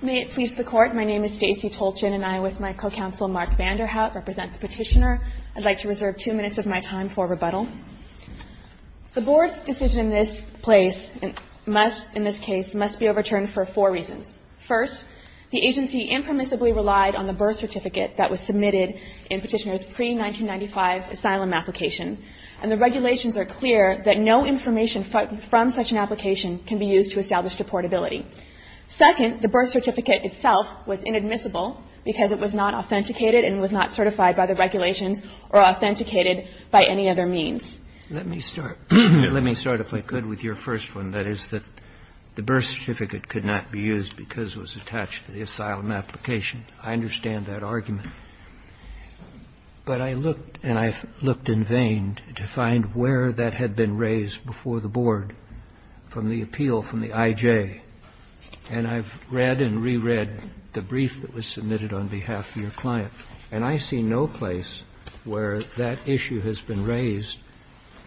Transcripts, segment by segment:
May it please the Court, my name is Stacey Tolchin and I, with my co-counsel Mark Vanderhaut, represent the Petitioner. I'd like to reserve two minutes of my time for rebuttal. The Board's decision in this case must be overturned for four reasons. First, the agency impermissibly relied on the birth certificate that was submitted in Petitioner's pre-1995 asylum application, and the regulations are clear that no information from such an application can be used to establish deportability. Second, the birth certificate itself was inadmissible because it was not authenticated and was not certified by the regulations or authenticated by any other means. Let me start, if I could, with your first one, that is that the birth certificate could not be used because it was attached to the asylum application. I understand that argument. But I looked, and I've looked in vain, to find where that had been raised before the Board from the appeal from the I.J. And I've read and reread the brief that was submitted on behalf of your client, and I see no place where that issue has been raised,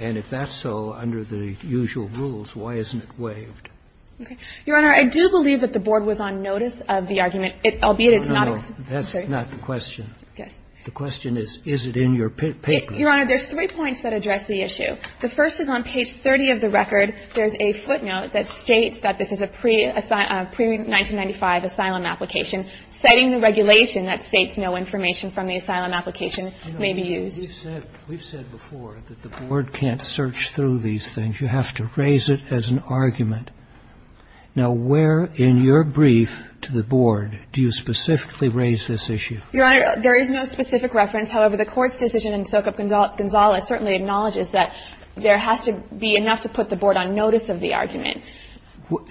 and if that's so, under the usual rules, why isn't it waived? Your Honor, I do believe that the Board was on notice of the argument, albeit it's not a specific case. That's not the question. Yes. The question is, is it in your paper? Your Honor, there's three points that address the issue. The first is on page 30 of the record. There's a footnote that states that this is a pre-1995 asylum application, citing the regulation that states no information from the asylum application may be used. We've said before that the Board can't search through these things. You have to raise it as an argument. Now, where in your brief to the Board do you specifically raise this issue? Your Honor, there is no specific reference. However, the Court's decision in Sokup-Gonzalez certainly acknowledges that there has to be enough to put the Board on notice of the argument.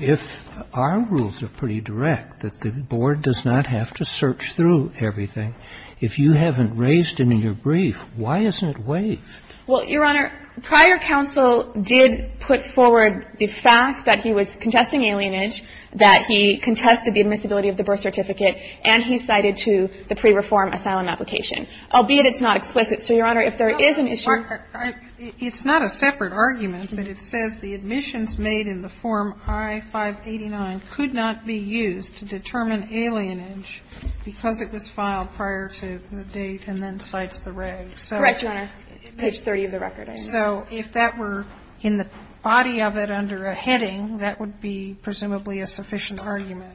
If our rules are pretty direct, that the Board does not have to search through everything, if you haven't raised it in your brief, why isn't it waived? Well, Your Honor, prior counsel did put forward the fact that he was contesting alienage, that he contested the admissibility of the birth certificate, and he cited to the pre-reform asylum application, albeit it's not explicit. So, Your Honor, if there is an issue ---- It's not a separate argument, but it says the admissions made in the form I-589 could not be used to determine alienage because it was filed prior to the date and then cites the regs. Correct, Your Honor, page 30 of the record. So if that were in the body of it under a heading, that would be presumably a sufficient argument.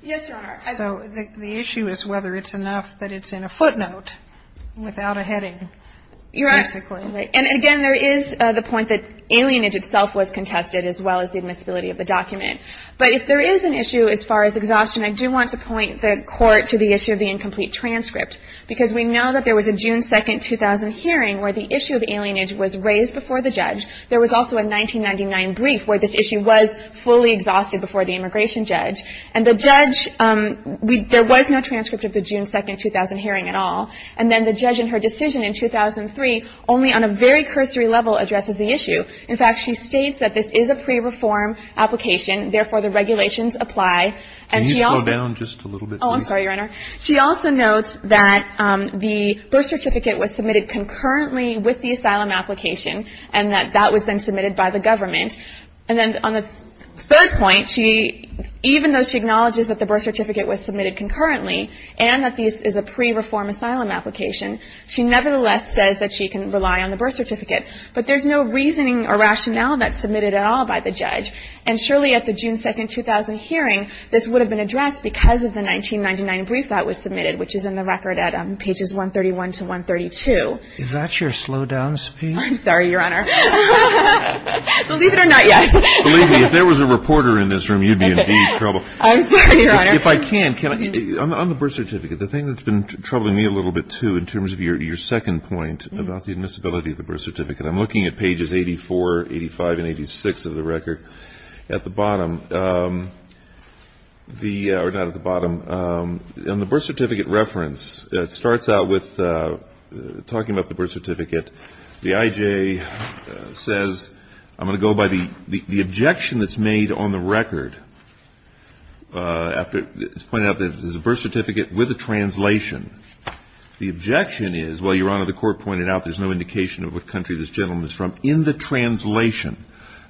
Yes, Your Honor. So the issue is whether it's enough that it's in a footnote without a heading, basically. Your Honor, and again, there is the point that alienage itself was contested as well as the admissibility of the document. But if there is an issue as far as exhaustion, I do want to point the Court to the issue of the incomplete transcript, because we know that there was a June 2, 2000 hearing where the issue of alienage was raised before the judge. There was also a 1999 brief where this issue was fully exhausted before the immigration judge. And the judge, there was no transcript of the June 2, 2000 hearing at all. And then the judge in her decision in 2003, only on a very cursory level, addresses the issue. In fact, she states that this is a pre-reform application. Therefore, the regulations apply. And she also ---- Can you slow down just a little bit, please? Oh, I'm sorry, Your Honor. She also notes that the birth certificate was submitted concurrently with the asylum application and that that was then submitted by the government. And then on the third point, even though she acknowledges that the birth certificate was submitted concurrently and that this is a pre-reform asylum application, she nevertheless says that she can rely on the birth certificate. But there's no reasoning or rationale that's submitted at all by the judge. And surely at the June 2, 2000 hearing, this would have been addressed because of the 1999 brief that was submitted, which is in the record at pages 131 to 132. Is that your slowdown speed? I'm sorry, Your Honor. Believe it or not, yes. Believe me, if there was a reporter in this room, you'd be in deep trouble. I'm sorry, Your Honor. If I can, can I ---- on the birth certificate, the thing that's been troubling me a little bit, too, in terms of your second point about the admissibility of the birth certificate, I'm looking at pages 84, 85, and 86 of the record. At the bottom, the ---- or not at the bottom, on the birth certificate reference, it starts out with talking about the birth certificate. The I.J. says, I'm going to go by the objection that's made on the record after it's pointed out that there's a birth certificate with a translation. The objection is, well, Your Honor, the court pointed out there's no indication of what country this gentleman is from in the translation.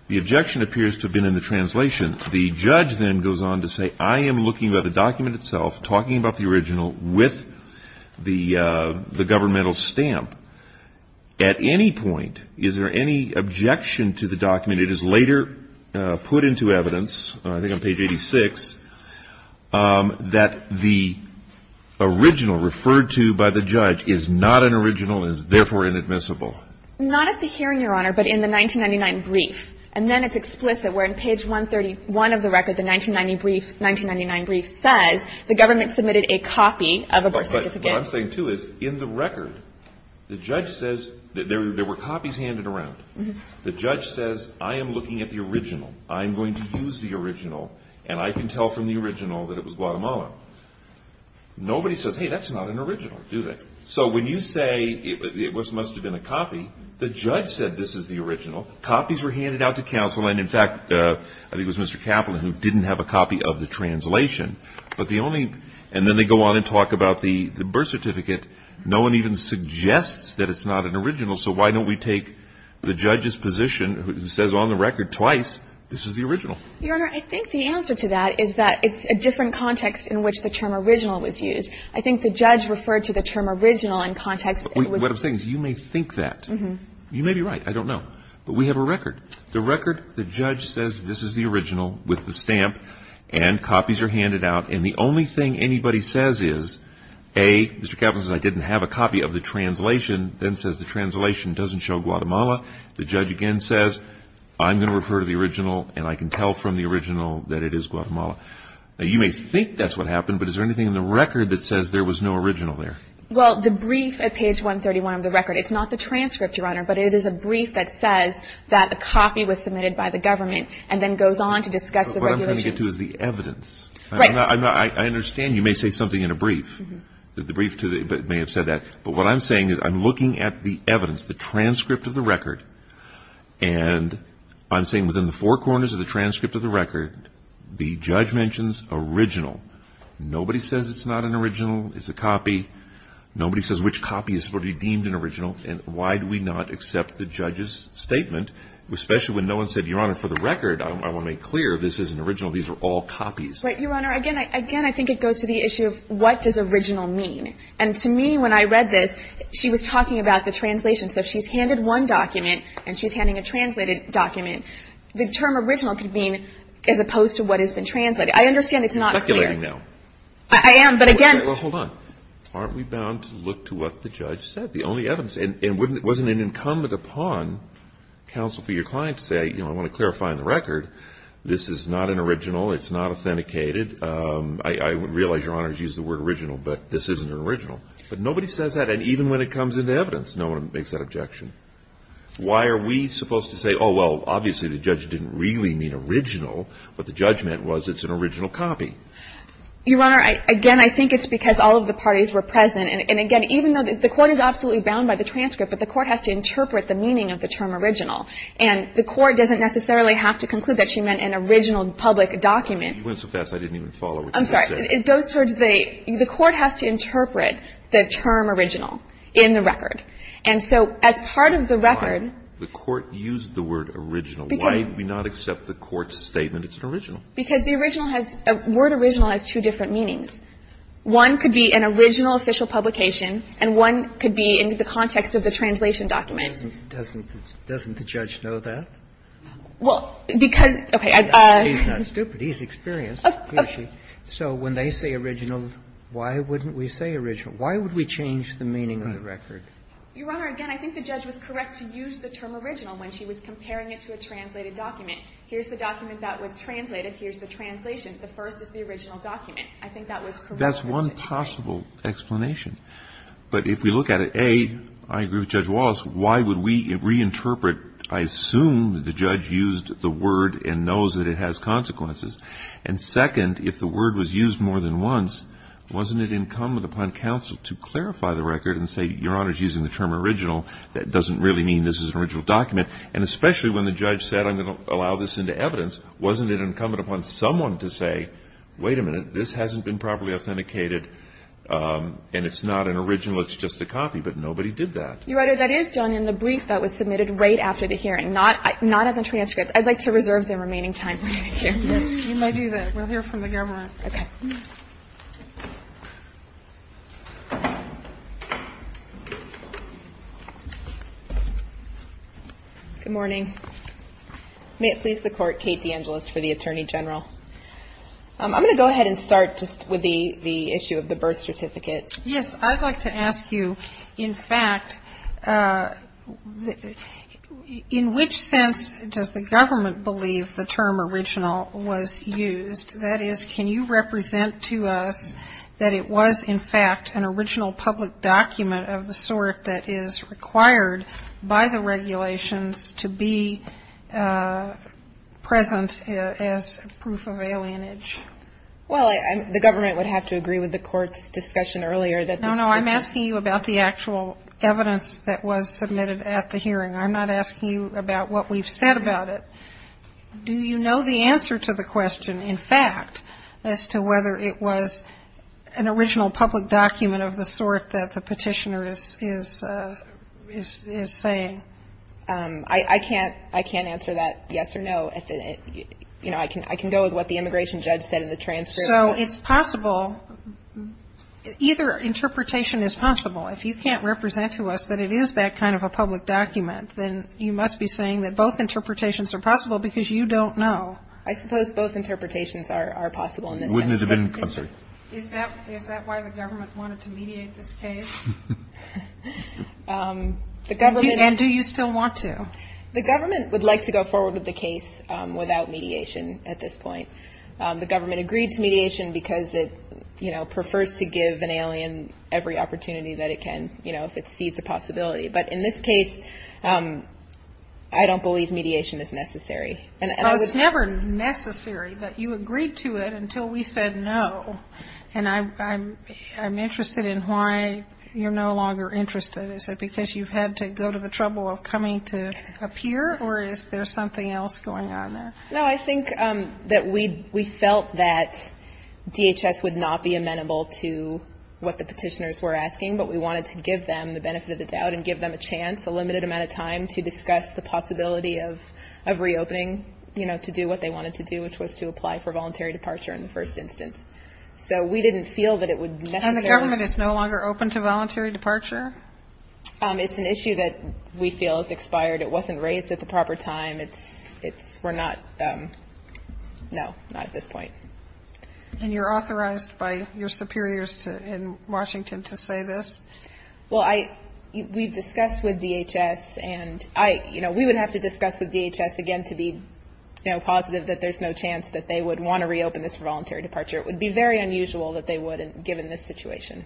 The objection appears to have been in the translation. The judge then goes on to say, I am looking at the document itself, talking about the original with the governmental stamp. At any point, is there any objection to the document? It is later put into evidence, I think on page 86, that the original referred to by the judge is not an original and is therefore inadmissible. Not at the hearing, Your Honor, but in the 1999 brief. And then it's explicit, where on page 131 of the record, the 1999 brief says the government submitted a copy of a birth certificate. What I'm saying, too, is in the record, the judge says that there were copies handed around. The judge says, I am looking at the original. I am going to use the original, and I can tell from the original that it was Guatemala. Nobody says, hey, that's not an original, do they? So when you say it must have been a copy, the judge said this is the original. Copies were handed out to counsel, and in fact, I think it was Mr. Kaplan who didn't have a copy of the translation. But the only, and then they go on and talk about the birth certificate. No one even suggests that it's not an original, so why don't we take the judge's position, who says on the record twice, this is the original? Your Honor, I think the answer to that is that it's a different context in which the term original was used. I think the judge referred to the term original in context that was What I'm saying is you may think that. You may be right. I don't know. But we have a record. The record, the judge says this is the original with the stamp, and copies are handed out. And the only thing anybody says is, A, Mr. Kaplan says I didn't have a copy of the translation, then says the translation doesn't show Guatemala. The judge again says, I'm going to refer to the original, and I can tell from the original that it is Guatemala. Now, you may think that's what happened, but is there anything in the record that says there was no original there? Well, the brief at page 131 of the record, it's not the transcript, Your Honor, but it is a brief that says that a copy was submitted by the government, and then goes on to discuss the regulations. But what I'm trying to get to is the evidence. Right. I'm not, I understand you may say something in a brief, that the brief may have said that. But what I'm saying is I'm looking at the evidence, the transcript of the record, and I'm saying within the four corners of the transcript of the record, the judge mentions original. Nobody says it's not an original, it's a copy. Nobody says which copy is deemed an original, and why do we not accept the judge's statement, especially when no one said, Your Honor, for the record, I want to make clear, this is an original, these are all copies. Right, Your Honor. Again, I think it goes to the issue of what does original mean? And to me, when I read this, she was talking about the translation. So she's handed one document, and she's handing a translated document. The term original could mean, as opposed to what has been translated. I understand it's not clear. You're speculating now. I am, but again — Well, hold on. Aren't we bound to look to what the judge said? The only evidence, and wasn't it incumbent upon counsel for your client to say, you know, I want to clarify on the record, this is not an original, it's not authenticated. I realize, Your Honor, you used the word original, but this isn't an original. But nobody says that, and even when it comes into evidence, no one makes that objection. Why are we supposed to say, oh, well, obviously the judge didn't really mean original, but the judgment was it's an original copy? Your Honor, again, I think it's because all of the parties were present. And again, even though the court is absolutely bound by the transcript, but the court has to interpret the meaning of the term original. And the court doesn't necessarily have to conclude that she meant an original public document. You went so fast, I didn't even follow what you just said. I'm sorry. It goes towards the court has to interpret the term original in the record. And so as part of the record the court used the word original. Why did we not accept the court's statement it's an original? Because the original has the word original has two different meanings. One could be an original official publication, and one could be in the context of the translation document. Doesn't the judge know that? Well, because, okay. He's not stupid. He's experienced. So when they say original, why wouldn't we say original? Why would we change the meaning of the record? Your Honor, again, I think the judge was correct to use the term original when she was comparing it to a translated document. Here's the document that was translated. Here's the translation. The first is the original document. I think that was correct. That's one possible explanation. But if we look at it, A, I agree with Judge Wallace, why would we reinterpret I assume the judge used the word and knows that it has consequences. And second, if the word was used more than once, wasn't it incumbent upon counsel to clarify the record and say, Your Honor, using the term original, that doesn't really mean this is an original document. And especially when the judge said I'm going to allow this into evidence, wasn't it incumbent upon someone to say, wait a minute, this hasn't been properly authenticated, and it's not an original, it's just a copy. But nobody did that. Your Honor, that is done in the brief that was submitted right after the hearing, not at the transcript. I'd like to reserve the remaining time for the hearing. Yes, you may do that. We'll hear from the government. OK. Good morning. May it please the court, Kate DeAngelis for the Attorney General. I'm going to go ahead and start just with the issue of the birth certificate. Yes, I'd like to ask you, in fact, in which sense does the government believe the term original was used? That is, can you represent to us that it was, in fact, an original public document of the sort that is required by the regulations to be present as proof of alienage? Well, the government would have to agree with the court's discussion earlier that No, no, I'm asking you about the actual evidence that was submitted at the hearing. I'm not asking you about what we've said about it. Do you know the answer to the question, in fact, as to whether it was an original public document of the sort that the petitioner is saying? I can't answer that yes or no. You know, I can go with what the immigration judge said in the transcript. So it's possible, either interpretation is possible. If you can't represent to us that it is that kind of a public document, then you must be I suppose both interpretations are possible because you don't know. I suppose both interpretations are possible in this case. Is that why the government wanted to mediate this case? And do you still want to? The government would like to go forward with the case without mediation at this point. The government agreed to mediation because it, you know, prefers to give an alien every opportunity that it can, you know, if it sees a possibility. But in this case, I don't believe mediation is necessary. Well, it's never necessary, but you agreed to it until we said no. And I'm interested in why you're no longer interested. Is it because you've had to go to the trouble of coming to appear, or is there something else going on there? No, I think that we felt that DHS would not be amenable to what the petitioners were asking, but we wanted to give them the benefit of the doubt and give them a chance, a limited amount of time, to discuss the possibility of reopening, you know, to do what they wanted to do, which was to apply for voluntary departure in the first instance. So we didn't feel that it would necessarily And the government is no longer open to voluntary departure? It's an issue that we feel has expired. It wasn't raised at the proper time. It's, we're not, no, not at this point. And you're authorized by your superiors in Washington to say this? Well, I, we've discussed with DHS and I, you know, we would have to discuss with DHS again to be, you know, positive that there's no chance that they would want to reopen this for voluntary departure. It would be very unusual that they would, given this situation.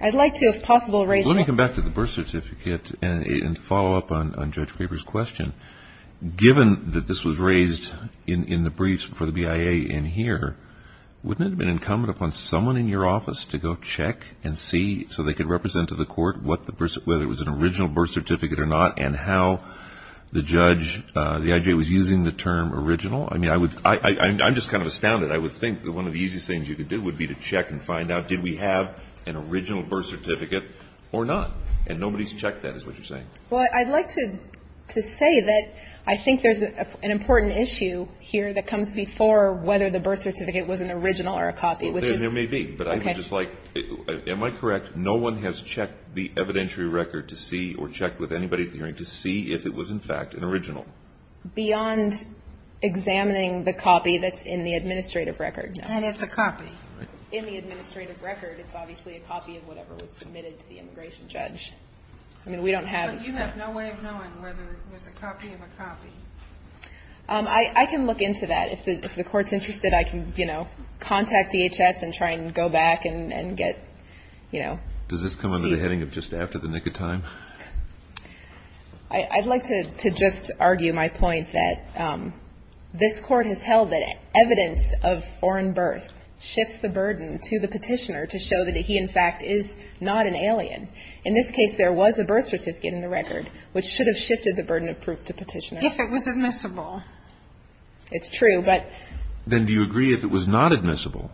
I'd like to, if possible, raise Let me come back to the birth certificate and follow up on Judge Craver's question. Given that this was raised in the briefs for the BIA in here, wouldn't it have been incumbent upon someone in your office to go check and see so they could represent to the court what the birth, whether it was an original birth certificate or not, and how the judge, the IJ was using the term original? I mean, I would, I'm just kind of astounded. I would think that one of the easiest things you could do would be to check and find out did we have an original birth certificate or not? And nobody's checked that, is what you're saying. Well, I'd like to say that I think there's an important issue here that comes before whether the birth certificate was an original or a copy, which is There may be, but I would just like, am I correct? No one has checked the evidentiary record to see or checked with anybody at the hearing to see if it was in fact an original. Beyond examining the copy that's in the administrative record, no. And it's a copy. Right. In the administrative record, it's obviously a copy of whatever was submitted to the immigration judge. I mean, we don't have But you have no way of knowing whether it was a copy of a copy. I can look into that. If the court's interested, I can, you know, contact DHS and try and go back and get, you know, Does this come under the heading of just after the nick of time? I'd like to just argue my point that this court has held that evidence of foreign birth shifts the burden to the petitioner to show that he in fact is not an alien. In this case, there was a birth certificate in the record, which should have shifted the burden of proof to petitioner. If it was admissible. It's true. But Then do you agree if it was not admissible,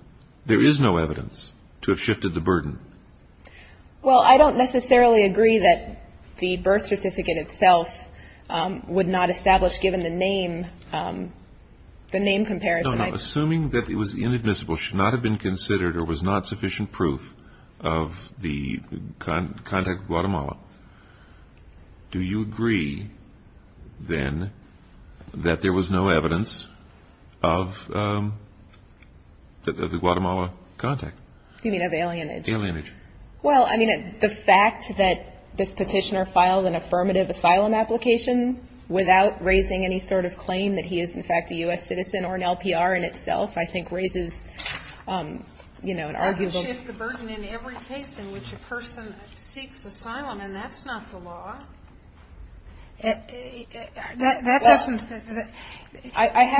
there is no evidence to have shifted the burden? Well, I don't necessarily agree that the birth certificate itself would not establish, given the name, the name comparison. Assuming that it was inadmissible, should not have been considered or was not sufficient proof of the contact with Guatemala. Do you agree, then, that there was no evidence of the Guatemala contact? You mean of alienage? Alienage. Well, I mean, the fact that this petitioner filed an affirmative asylum application without raising any sort of claim that he is in fact a U.S. citizen or an LPR in itself, I think raises, you know, an arguable It would shift the burden in every case in which a person seeks asylum, and that's not the law. That doesn't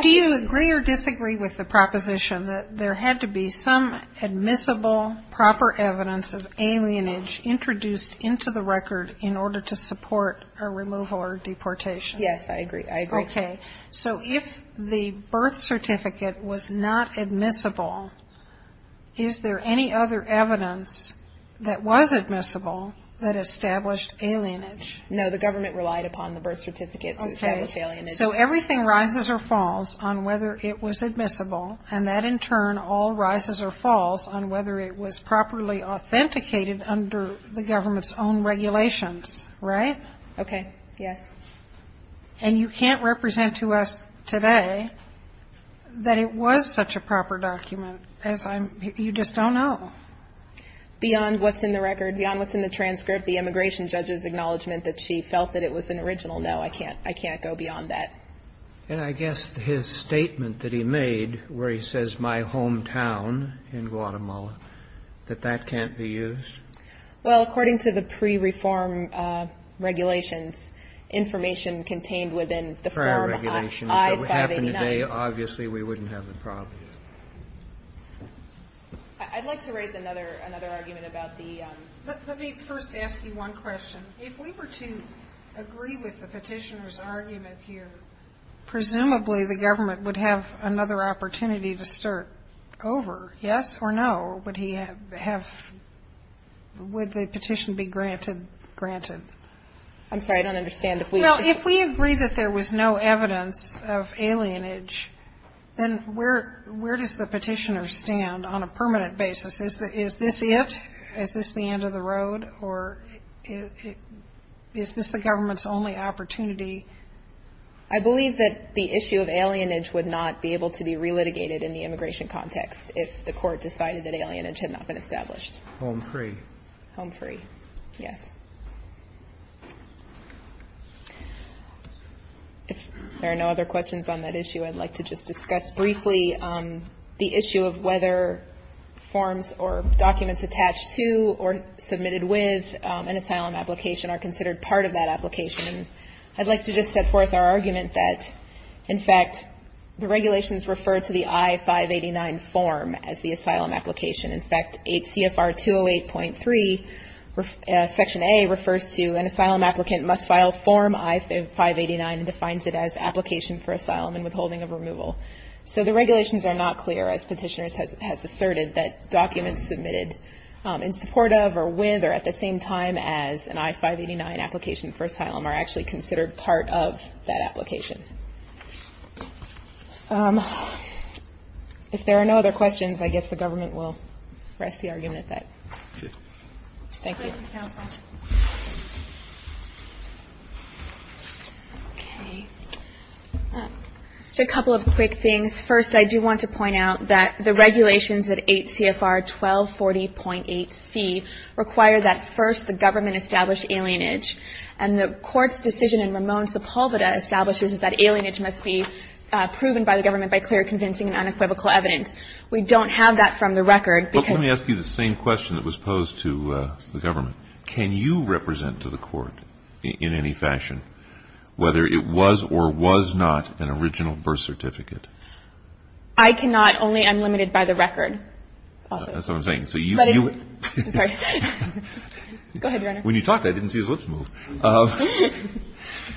Do you agree or disagree with the proposition that there had to be some admissible, proper evidence of alienage introduced into the record in order to support a removal or deportation? Yes, I agree. I agree. Okay. So if the birth certificate was not admissible, is there any other evidence that was admissible that established alienage? No. The government relied upon the birth certificate to establish alienage. So everything rises or falls on whether it was admissible, and that, in turn, all rises or falls on whether it was properly authenticated under the government's own regulations, right? Okay. Yes. And you can't represent to us today that it was such a proper document as I'm, you just don't know. Beyond what's in the record, beyond what's in the transcript, the immigration judge's acknowledgement that she felt that it was an original, no, I can't, I can't go beyond that. And I guess his statement that he made where he says, my hometown in Guatemala, that that can't be used? Well, according to the pre-reform regulations, information contained within the form I-589 If it happened today, obviously we wouldn't have the problem. I'd like to raise another argument about the Let me first ask you one question. If we were to agree with the petitioner's argument here, presumably the government would have another opportunity to start over, yes or no? Or would he have, would the petition be granted, granted? I'm sorry, I don't understand. Well, if we agree that there was no evidence of alienage, then where, where does the petitioner stand on a permanent basis? Is this it? Is this the end of the road or is this the government's only opportunity? I believe that the issue of alienage would not be able to be re-litigated in the immigration context if the court decided that alienage had not been established. Home free. Home free, yes. If there are no other questions on that issue, I'd like to just discuss briefly the issue of whether forms or documents attached to or submitted with an asylum application are considered part of that application. I'd like to just set forth our argument that, in fact, the regulations refer to the I-589 form as the asylum application. In fact, 8 CFR 208.3, Section A refers to an asylum applicant must file form I-589 and defines it as application for asylum and withholding of removal. So the regulations are not clear, as petitioner has asserted, that documents submitted in the I-589 application for asylum are actually considered part of that application. If there are no other questions, I guess the government will rest the argument at that. Thank you. Thank you, counsel. Okay. Just a couple of quick things. First, I do want to point out that the regulations at 8 CFR 1240.8c require that first the government establish alienage, and the court's decision in Ramon Sepulveda establishes that alienage must be proven by the government by clear, convincing, and unequivocal evidence. We don't have that from the record because Let me ask you the same question that was posed to the government. Can you represent to the court in any fashion whether it was or was not an original birth certificate? I cannot. Only I'm limited by the record. So you I'm sorry. Go ahead, Your Honor. When you talked, I didn't see his lips move.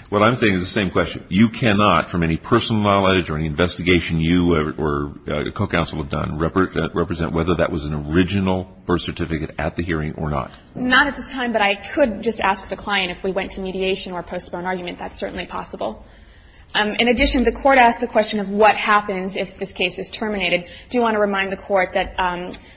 What I'm saying is the same question. You cannot, from any personal knowledge or any investigation you or a co-counsel have done, represent whether that was an original birth certificate at the hearing or not. Not at this time, but I could just ask the client if we went to mediation or postpone argument. That's certainly possible. In addition, the court asked the question of what happens if this case is terminated. I do want to remind the court that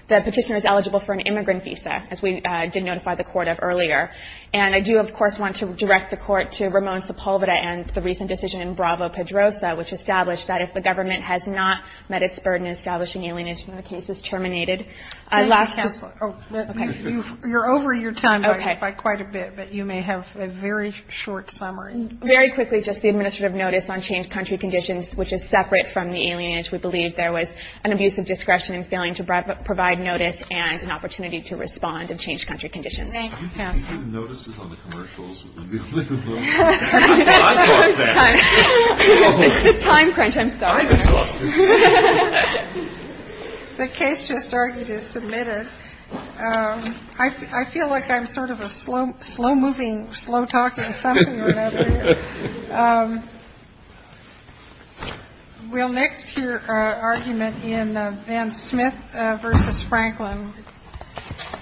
the petitioner is eligible for an immigrant visa, as we did notify the court of earlier. And I do, of course, want to direct the court to Ramon Sepulveda and the recent decision in Bravo-Pedrosa, which established that if the government has not met its burden in establishing alienation, the case is terminated. Last Let me just Okay. You're over your time by quite a bit, but you may have a very short summary. Very quickly, just the administrative notice on changed country conditions, which is separate from the alienation. We believe there was an abuse of discretion in failing to provide notice and an opportunity to respond of changed country conditions. Thank you, counsel. You didn't notice this on the commercials? I thought that. It's the time crunch. I'm sorry. I'm exhausted. The case just argued is submitted. I feel like I'm sort of a slow-moving, slow-talking something or another here. Thank you. Thank you. Thank you. Thank you. Thank you. Thank you. Thank you. Thank you. Thank you. Thank you. Thank you. Thank you. Thank you. Thank you.